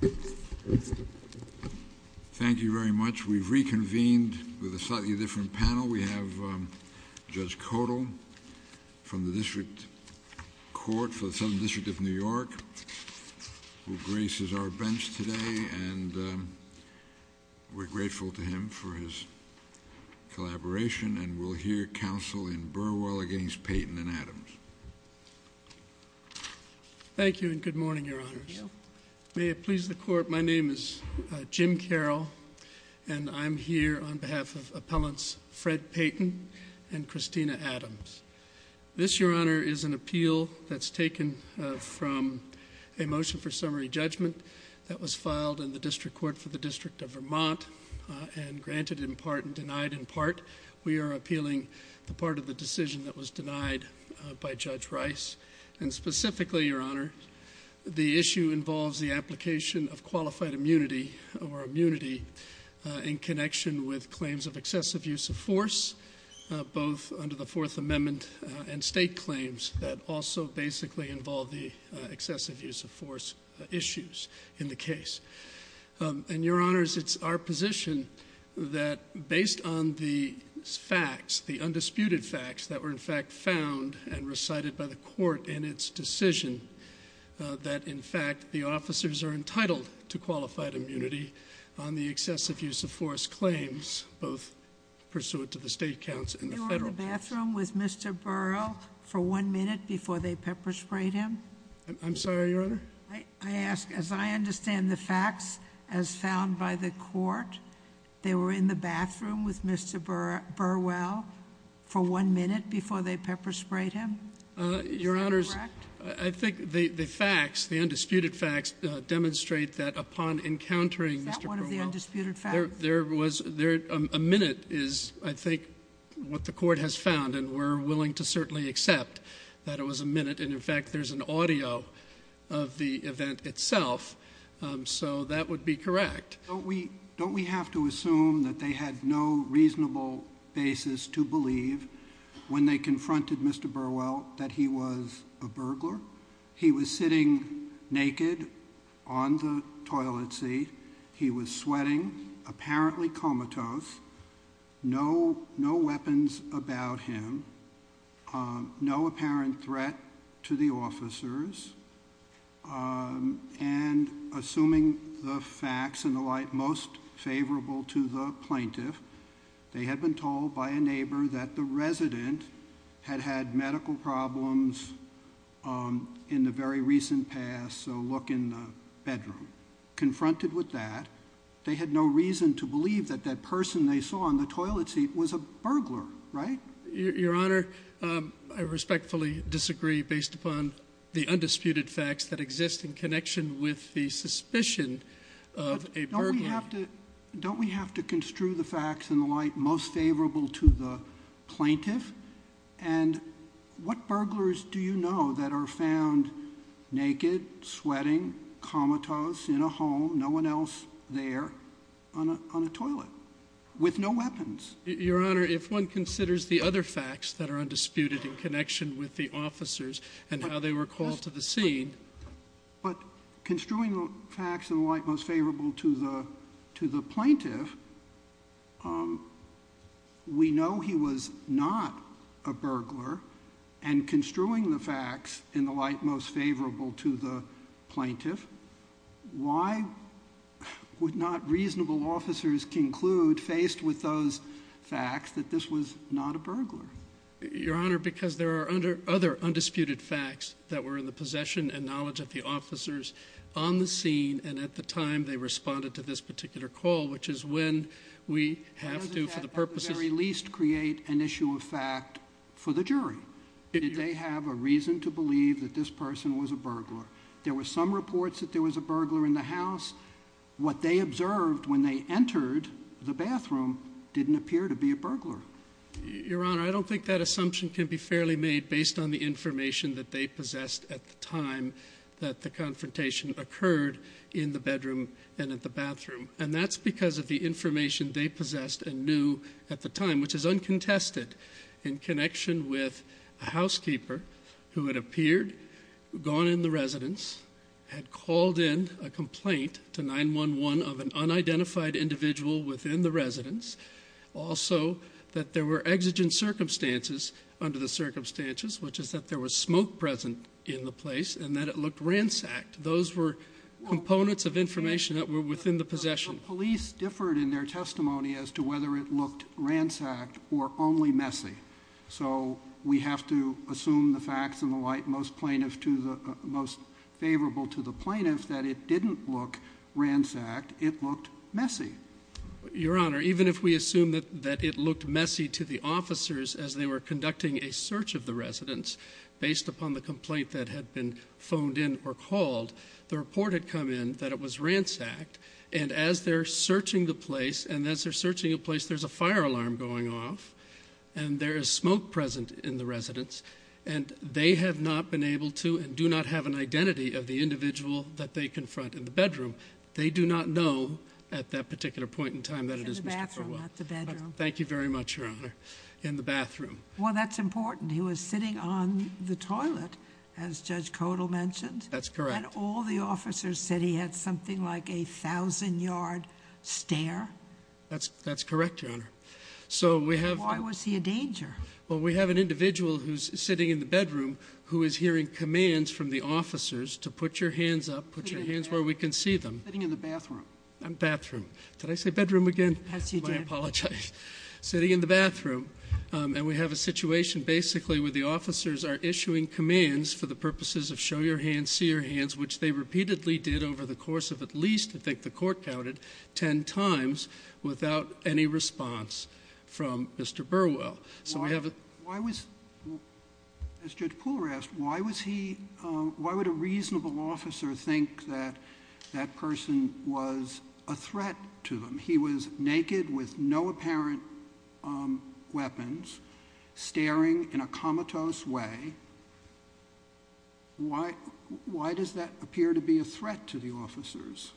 Thank you very much. We've reconvened with a slightly different panel. We have Judge Kodal from the District Court for the Southern District of New York, who graces our bench today, and we're grateful to him for his collaboration. And we'll hear counsel in Burwell against Peyton and Adams. Thank you, and good morning, Your Honors. May it please the Court, my name is Jim Carroll, and I'm here on behalf of Appellants Fred Peyton and Christina Adams. This, Your Honor, is an appeal that's taken from a motion for summary judgment that was filed in the District Court for the District of Vermont, and granted in part and denied in part. We are appealing the part of the decision that was denied by Judge Rice, and specifically, Your Honor, the issue involves the application of qualified immunity or immunity in connection with claims of excessive use of force, both under the Fourth Amendment and state claims that also basically involve the excessive use of force issues in the case. And, Your Honors, it's our position that, based on the facts, the undisputed facts that were, in fact, found and recited by the Court in its decision, that, in fact, the officers are entitled to qualified immunity on the excessive use of force claims, both pursuant to the state counts and the federal courts. Were you in the bathroom with Mr. Burwell for one minute before they pepper sprayed him? I'm sorry, Your Honor? I ask, as I understand the facts as found by the Court, they were in the bathroom with Mr. Burwell for one minute before they pepper sprayed him? Is that correct? Your Honors, I think the facts, the undisputed facts, demonstrate that, upon encountering Mr. Burwell, Is that one of the undisputed facts? there was, there, a minute is, I think, what the Court has found, and we're willing to the event itself, so that would be correct. Don't we have to assume that they had no reasonable basis to believe, when they confronted Mr. Burwell, that he was a burglar? He was sitting naked on the toilet seat. He was sweating, apparently comatose, no weapons about him, no apparent threat to the officers, and assuming the facts and the like most favorable to the plaintiff, they had been told by a neighbor that the resident had had medical problems in the very recent past, so look in the bedroom. Confronted with that, they had no reason to believe that that person they saw on the toilet seat was a burglar, right? Your Honor, I respectfully disagree based upon the undisputed facts that exist in connection with the suspicion of a burglar. Don't we have to construe the facts and the like most favorable to the plaintiff? And what burglars do you know that are found naked, sweating, comatose, in a home, no one else there, on a toilet, with no weapons? Your Honor, if one considers the other facts that are undisputed in connection with the officers and how they were called to the scene... But construing the facts and the like most favorable to the plaintiff, we know he was not a burglar, and construing the facts and the like most favorable to the plaintiff, why would not reasonable officers conclude, faced with those facts, that this was not a burglar? Your Honor, because there are other undisputed facts that were in the possession and knowledge of the officers on the scene, and at the time they responded to this particular call, which is when we have to, for the purposes... To a fact for the jury. Did they have a reason to believe that this person was a burglar? There were some reports that there was a burglar in the house. What they observed when they entered the bathroom didn't appear to be a burglar. Your Honor, I don't think that assumption can be fairly made based on the information that they possessed at the time that the confrontation occurred in the bedroom and at the bathroom. That's because of the information they possessed and knew at the time, which is uncontested in connection with a housekeeper who had appeared, gone in the residence, had called in a complaint to 911 of an unidentified individual within the residence. Also, that there were exigent circumstances under the circumstances, which is that there was smoke present in the place and that it looked ransacked. Those were components of information that were within the possession. Police differed in their testimony as to whether it looked ransacked or only messy. So we have to assume the facts and the light most favorable to the plaintiff that it didn't look ransacked, it looked messy. Your Honor, even if we assume that it looked messy to the officers as they were conducting a search of the residence based upon the complaint that had been phoned in or called, the report had come in that it was ransacked and as they're searching the place and as they're searching the place there's a fire alarm going off and there is smoke present in the residence and they have not been able to and do not have an identity of the individual that they confront in the bedroom. They do not know at that particular point in time that it is Mr. Burwell. Thank you very much, Your Honor. Well, that's important. He was sitting on the toilet, as Judge Codall mentioned. That's correct. And all the officers said he had something like a thousand yard stare. That's correct, Your Honor. Why was he a danger? Well, we have an individual who's sitting in the bedroom who is hearing commands from the officers to put your hands up, put your hands where we can see them. Sitting in the bathroom. Bathroom. Did I say bedroom again? Yes, you did. I apologize. Sitting in the bathroom. And we have a situation basically where the officers are issuing commands for the purposes of show your hands, see your hands, which they repeatedly did over the course of at least, I think the court counted, ten times without any response from Mr. Burwell. So we have a Why was, as Judge Pooler asked, why was he, why would a reasonable officer think that that person was a threat to them? He was naked with no apparent weapons, staring in a comatose way. Why does that appear to be a threat to the officers?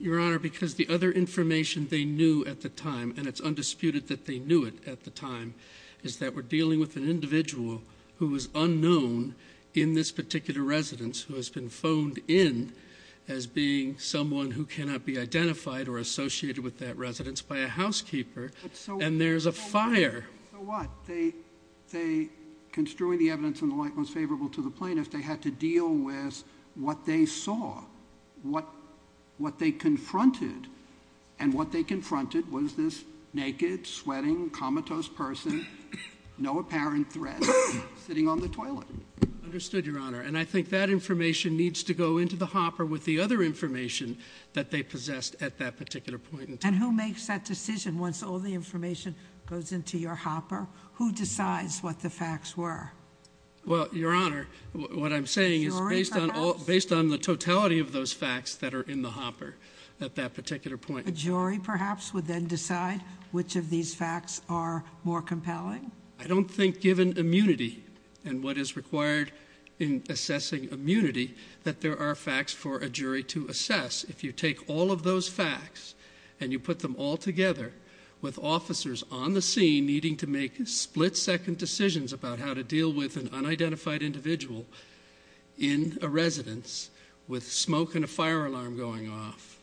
Your Honor, because the other information they knew at the time, and it's undisputed that they knew it at the time, is that we're dealing with an individual who is unknown in this particular residence who has been phoned in as being someone who cannot be identified or associated with that residence by a housekeeper, and there's a fire. So what? They, construing the evidence in the light most favorable to the plaintiff, they had to deal with what they saw, what they confronted, and what they confronted was this naked, sweating, comatose person, no apparent threat, sitting on the toilet. Understood, Your Honor. And I think that information needs to go into the hopper with the other information that they possessed at that particular point. And who makes that decision once all the information goes into your hopper? Who decides what the facts were? Well, Your Honor, what I'm saying is based on the totality of those facts that are in the hopper at that particular point. A jury, perhaps, would then decide which of these facts are more compelling? I don't think given immunity and what is required in assessing immunity that there are facts for a jury to assess. If you take all of those facts and you put them all together with officers on the scene needing to make split-second decisions about how to deal with an unidentified individual in a residence with smoke and a fire alarm going off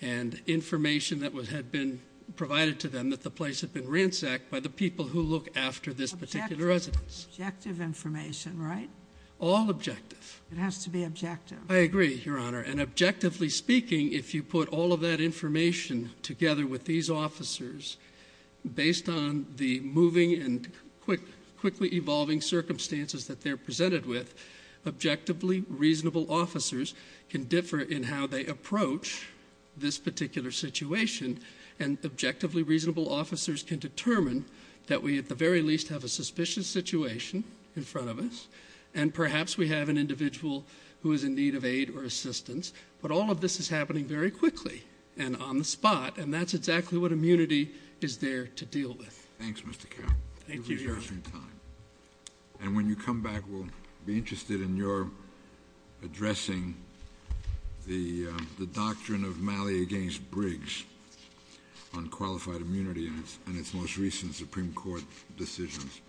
and information that had been provided to them that the place had been ransacked by the people who look after this particular residence. Objective information, right? All objective. It has to be objective. I agree, Your Honor. And objectively speaking, if you put all of that information together with these officers based on the moving and quickly evolving circumstances that they're presented with, objectively reasonable officers can differ in how they approach this particular situation and objectively reasonable officers can determine that we, at the very least, have a suspicious situation in front of us and perhaps we have an individual who is in need of aid or assistance. But all of this is happening very quickly and on the spot, and that's exactly what immunity is there to deal with. Thanks, Mr. Carroll. Thank you, Your Honor. And when you come back, we'll be interested in your addressing the doctrine of Malley against Briggs on qualified immunity and its most recent Supreme Court decisions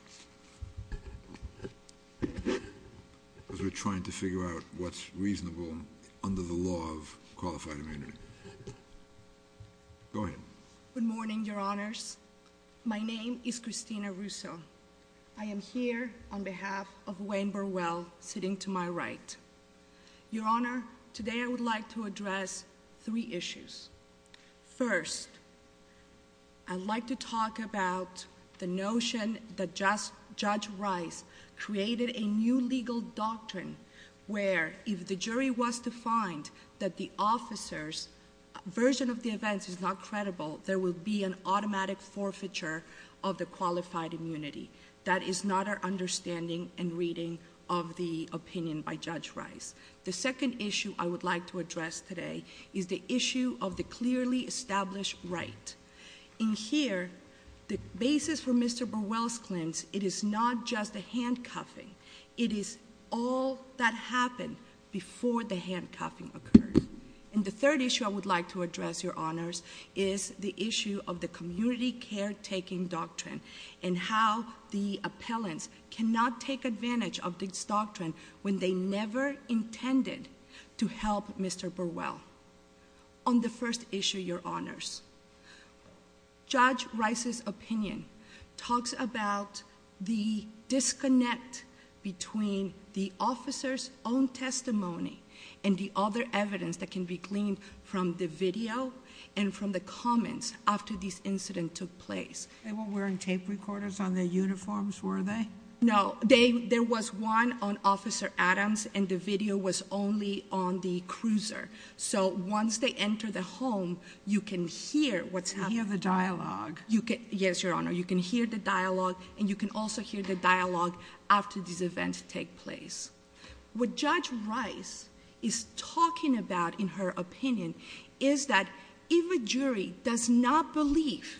as we're trying to figure out what's reasonable under the law of qualified immunity. Go ahead. Good morning, Your Honors. My name is Cristina Russo. I am here on behalf of Wayne Burwell sitting to my right. Your Honor, today I would like to address three issues. First, I'd like to talk about the notion that Judge Rice created a new legal doctrine where if the jury was to find that the officer's version of the events is not credible, there would be an automatic forfeiture of the qualified immunity. That is not our understanding and reading of the opinion by Judge Rice. The second issue I would like to address today is the issue of the clearly established right. In here, the basis for Mr. Burwell's claims, it is not just the handcuffing. It is all that happened before the handcuffing occurred. The third issue I would like to address, Your Honors, is the issue of the community caretaking doctrine and how the appellants cannot take advantage of this doctrine when they never intended to help Mr. Burwell. On the first issue, Your Honors, Judge Rice's opinion talks about the disconnect between the officer's own testimony and the other evidence that can be gleaned from the video and from the comments after this incident took place. They weren't wearing tape recorders on their uniforms, were they? No. There was one on Officer Adams and the video was only on the cruiser. So once they enter the home, you can hear what's happening. You can hear the dialogue. Yes, Your Honor. You can hear the dialogue and you can also hear the dialogue after these events take place. What Judge Rice is talking about in her opinion is that if a jury does not believe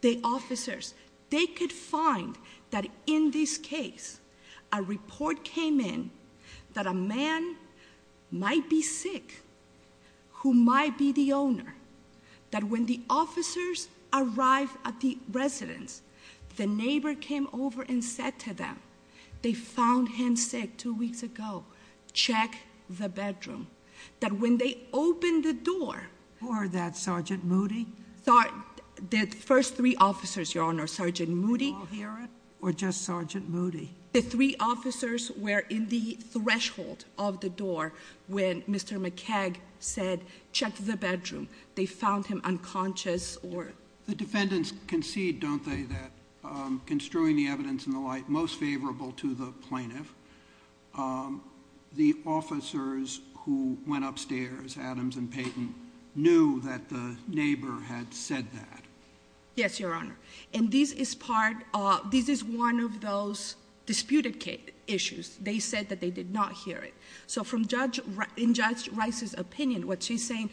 the officers, they could find that in this case a report came in that a man might be sick who might be the owner, that when the officers arrived at the residence, the neighbor came over and said to them, they found him sick two weeks ago. Check the bedroom. That when they opened the door- Who are that, Sergeant Moody? The first three officers, Your Honor, Sergeant Moody- Did you all hear it or just Sergeant Moody? The three officers were in the threshold of the door when Mr. McKag said, check the bedroom. They found him unconscious or- The defendants concede, don't they, that construing the evidence in the light most favorable to the plaintiff, the officers who went upstairs, Adams and Payton, knew that the neighbor had said that. Yes, Your Honor, and this is one of those disputed issues. They said that they did not hear it. So in Judge Rice's opinion, what she's saying,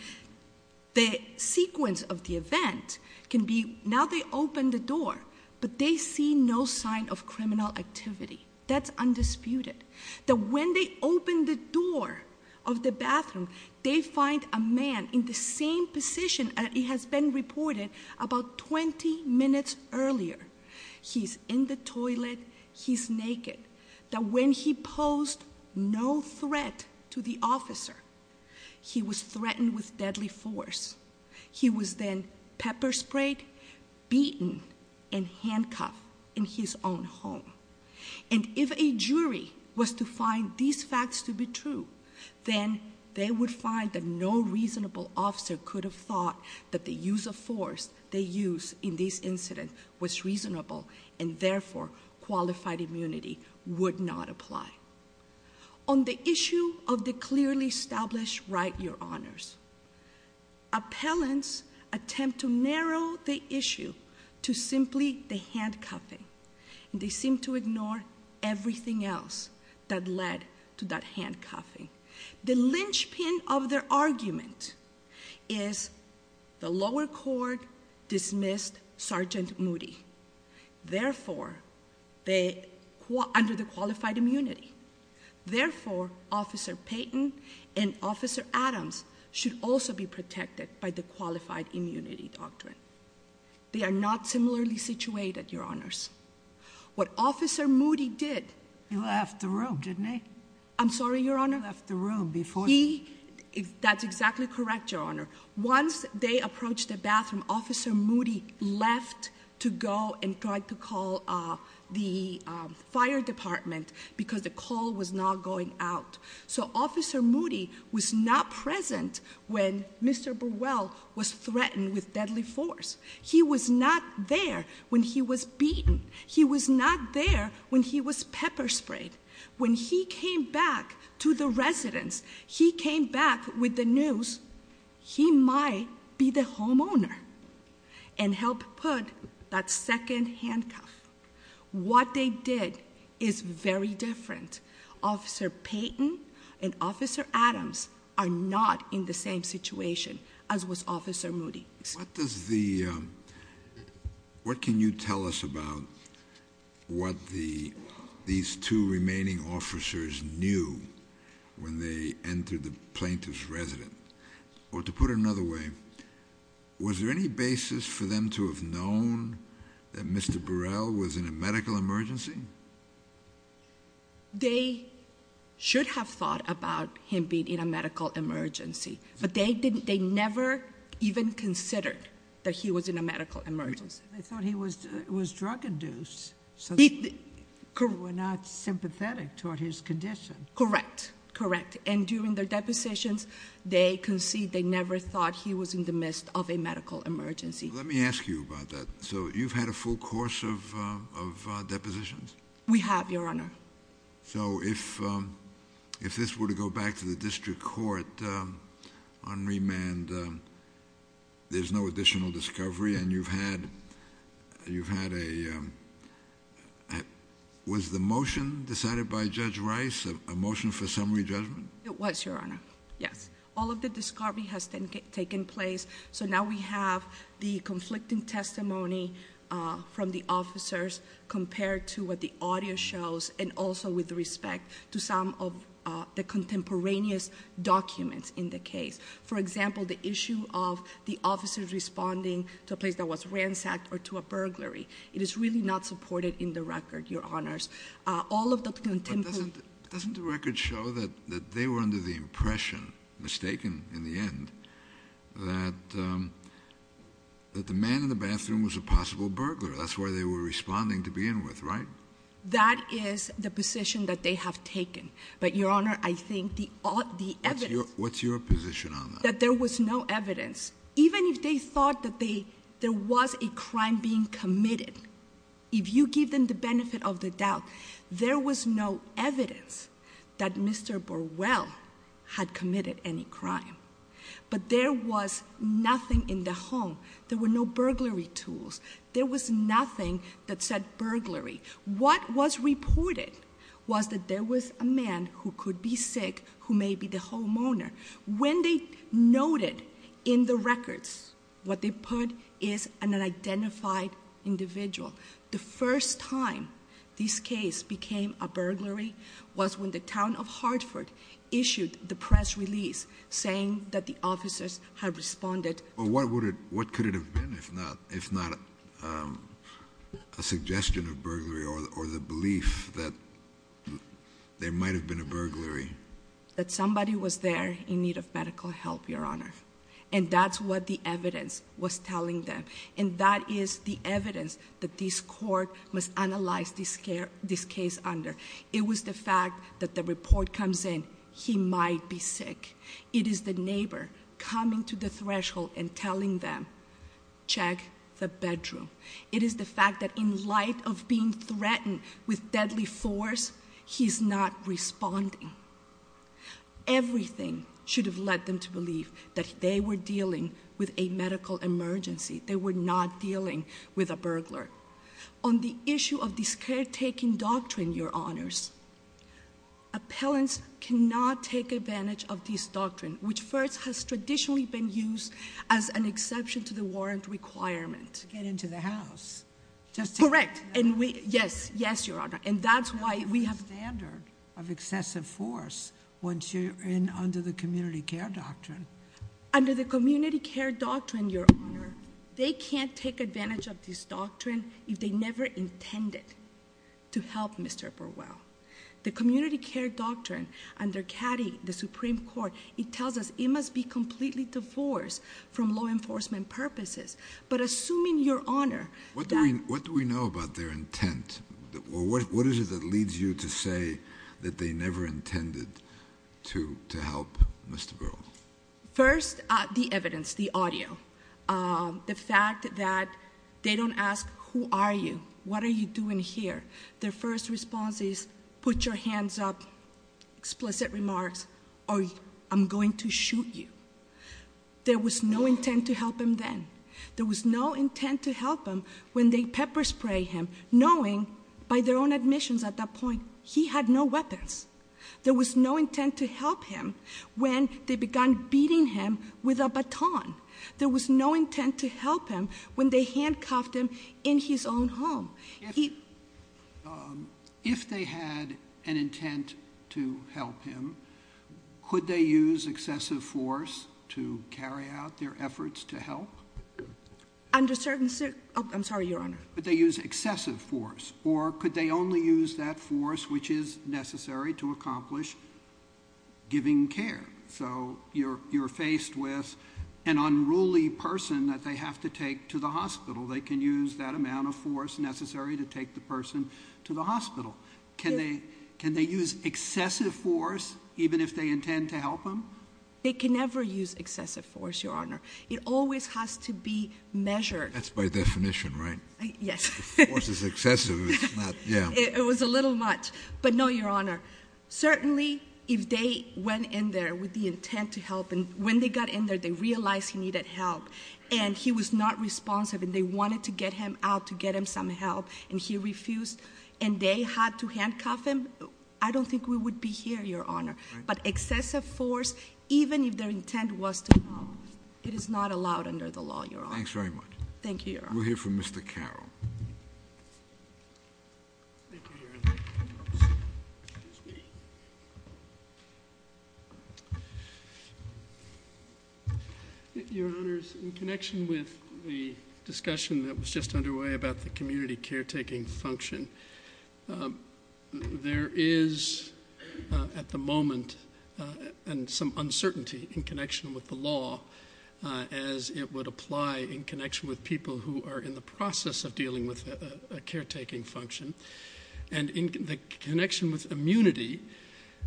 the sequence of the event can be, now they open the door, but they see no sign of criminal activity. That's undisputed. That when they open the door of the bathroom, they find a man in the same position that has been reported about 20 minutes earlier. He's in the toilet. He's naked. That when he posed no threat to the officer, he was threatened with deadly force. He was then pepper sprayed, beaten, and handcuffed in his own home. And if a jury was to find these facts to be true, then they would find that no reasonable officer could have thought that the use of force they used in this incident was reasonable, and therefore, qualified immunity would not apply. On the issue of the clearly established right, Your Honors, appellants attempt to narrow the issue to simply the handcuffing. They seem to ignore everything else that led to that handcuffing. The linchpin of their argument is the lower court dismissed Sergeant Moody, therefore, under the qualified immunity. Therefore, Officer Payton and Officer Adams should also be protected by the qualified immunity doctrine. They are not similarly situated, Your Honors. What Officer Moody did- He left the room, didn't he? I'm sorry, Your Honor? He left the room before- That's exactly correct, Your Honor. Once they approached the bathroom, Officer Moody left to go and tried to call the fire department because the call was not going out. So, Officer Moody was not present when Mr. Burwell was threatened with deadly force. He was not there when he was beaten. He was not there when he was pepper sprayed. When he came back to the residence, he came back with the news, he might be the homeowner and help put that second handcuff. What they did is very different. Officer Payton and Officer Adams are not in the same situation as was Officer Moody. What can you tell us about what these two remaining officers knew when they entered the plaintiff's residence? Or to put it another way, was there any basis for them to have known that Mr. Burwell was in a medical emergency? They should have thought about him being in a medical emergency. But they never even considered that he was in a medical emergency. They thought he was drug-induced, so they were not sympathetic toward his condition. Correct, correct. And during their depositions, they concede they never thought he was in the midst of a medical emergency. Let me ask you about that. So you've had a full course of depositions? We have, Your Honor. So if this were to go back to the district court on remand, there's no additional discovery? And you've had a—was the motion decided by Judge Rice a motion for summary judgment? It was, Your Honor, yes. All of the discovery has taken place. So now we have the conflicting testimony from the officers compared to what the audio shows and also with respect to some of the contemporaneous documents in the case. For example, the issue of the officers responding to a place that was ransacked or to a burglary. It is really not supported in the record, Your Honors. All of the contemporary— in the end, that the man in the bathroom was a possible burglar. That's why they were responding to begin with, right? That is the position that they have taken. But, Your Honor, I think the evidence— What's your position on that? That there was no evidence. Even if they thought that there was a crime being committed, if you give them the benefit of the doubt, there was no evidence that Mr. Burwell had committed any crime. But there was nothing in the home. There were no burglary tools. There was nothing that said burglary. What was reported was that there was a man who could be sick who may be the homeowner. When they noted in the records what they put is an unidentified individual, the first time this case became a burglary was when the town of Hartford issued the press release saying that the officers had responded to— What could it have been if not a suggestion of burglary or the belief that there might have been a burglary? That somebody was there in need of medical help, Your Honor. And that's what the evidence was telling them. And that is the evidence that this court must analyze this case under. It was the fact that the report comes in, he might be sick. It is the neighbor coming to the threshold and telling them, check the bedroom. It is the fact that in light of being threatened with deadly force, he's not responding. Everything should have led them to believe that they were dealing with a medical emergency. They were not dealing with a burglar. On the issue of this caretaking doctrine, Your Honors, appellants cannot take advantage of this doctrine, which first has traditionally been used as an exception to the warrant requirement. To get into the house. Correct. Yes, Your Honor. And that's why we have— That's the standard of excessive force once you're in under the community care doctrine. Under the community care doctrine, Your Honor, they can't take advantage of this doctrine if they never intended to help Mr. Burwell. The community care doctrine under CADI, the Supreme Court, it tells us it must be completely divorced from law enforcement purposes. But assuming, Your Honor— What do we know about their intent? What is it that leads you to say that they never intended to help Mr. Burwell? First, the evidence, the audio. The fact that they don't ask, who are you? What are you doing here? Their first response is, put your hands up, explicit remarks, or I'm going to shoot you. There was no intent to help him then. There was no intent to help him when they pepper spray him, knowing by their own admissions at that point he had no weapons. There was no intent to help him when they began beating him with a baton. There was no intent to help him when they handcuffed him in his own home. If they had an intent to help him, could they use excessive force to carry out their efforts to help? Under certain circumstances—I'm sorry, Your Honor. Could they use excessive force, or could they only use that force which is necessary to accomplish giving care? So you're faced with an unruly person that they have to take to the hospital. They can use that amount of force necessary to take the person to the hospital. Can they use excessive force even if they intend to help him? They can never use excessive force, Your Honor. It always has to be measured. That's by definition, right? Yes. If the force is excessive, it's not— It was a little much, but no, Your Honor. Certainly, if they went in there with the intent to help, and when they got in there, they realized he needed help, and he was not responsive, and they wanted to get him out to get him some help, and he refused, and they had to handcuff him, I don't think we would be here, Your Honor. But excessive force, even if their intent was to help, it is not allowed under the law, Your Honor. Thanks very much. Thank you, Your Honor. We'll hear from Mr. Carroll. Thank you, Your Honor. Your Honors, in connection with the discussion that was just underway about the community caretaking function, there is at the moment some uncertainty in connection with the law as it would apply in connection with people who are in the process of dealing with a caretaking function. And in the connection with immunity,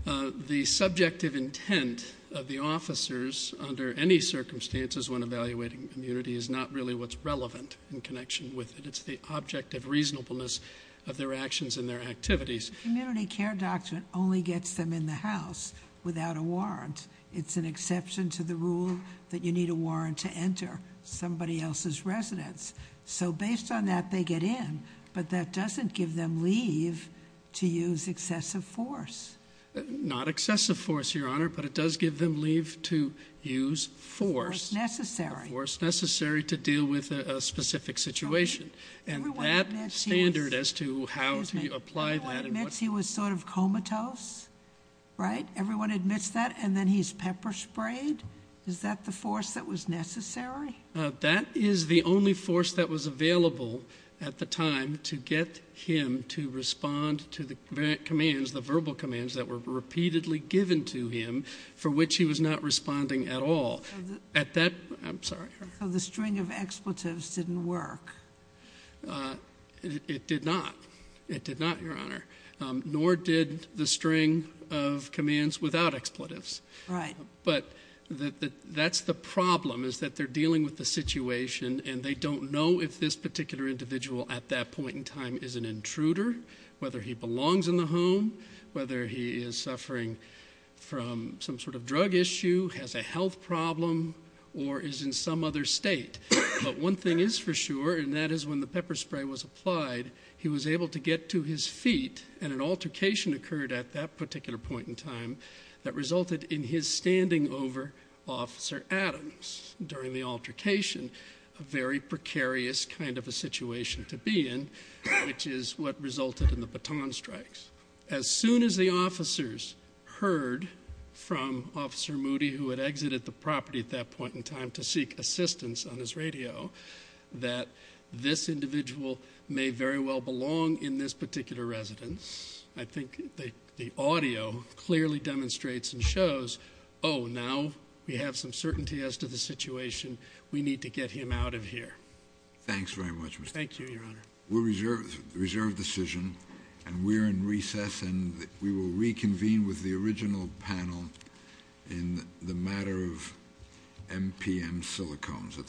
the subjective intent of the officers under any circumstances when evaluating immunity is not really what's relevant in connection with it. It's the object of reasonableness of their actions and their activities. Community care doctrine only gets them in the house without a warrant. It's an exception to the rule that you need a warrant to enter somebody else's residence. So based on that, they get in. But that doesn't give them leave to use excessive force. Not excessive force, Your Honor, but it does give them leave to use force. Force necessary. Force necessary to deal with a specific situation. And that standard as to how to apply that. Everyone admits he was sort of comatose, right? And he's pepper sprayed? Is that the force that was necessary? That is the only force that was available at the time to get him to respond to the commands, the verbal commands that were repeatedly given to him for which he was not responding at all. At that, I'm sorry. So the string of expletives didn't work. It did not. It did not, Your Honor. Nor did the string of commands without expletives. Right. But that's the problem is that they're dealing with the situation, and they don't know if this particular individual at that point in time is an intruder, whether he belongs in the home, whether he is suffering from some sort of drug issue, has a health problem, or is in some other state. But one thing is for sure, and that is when the pepper spray was applied, he was able to get to his feet, and an altercation occurred at that particular point in time that resulted in his standing over Officer Adams during the altercation, a very precarious kind of a situation to be in, which is what resulted in the baton strikes. As soon as the officers heard from Officer Moody, who had exited the property at that point in time to seek assistance on his radio, that this individual may very well belong in this particular residence, I think the audio clearly demonstrates and shows, oh, now we have some certainty as to the situation. We need to get him out of here. Thanks very much, Mr. Chairman. Thank you, Your Honor. We'll reserve the decision, and we're in recess, and we will reconvene with the original panel in the matter of MPM silicones, et cetera.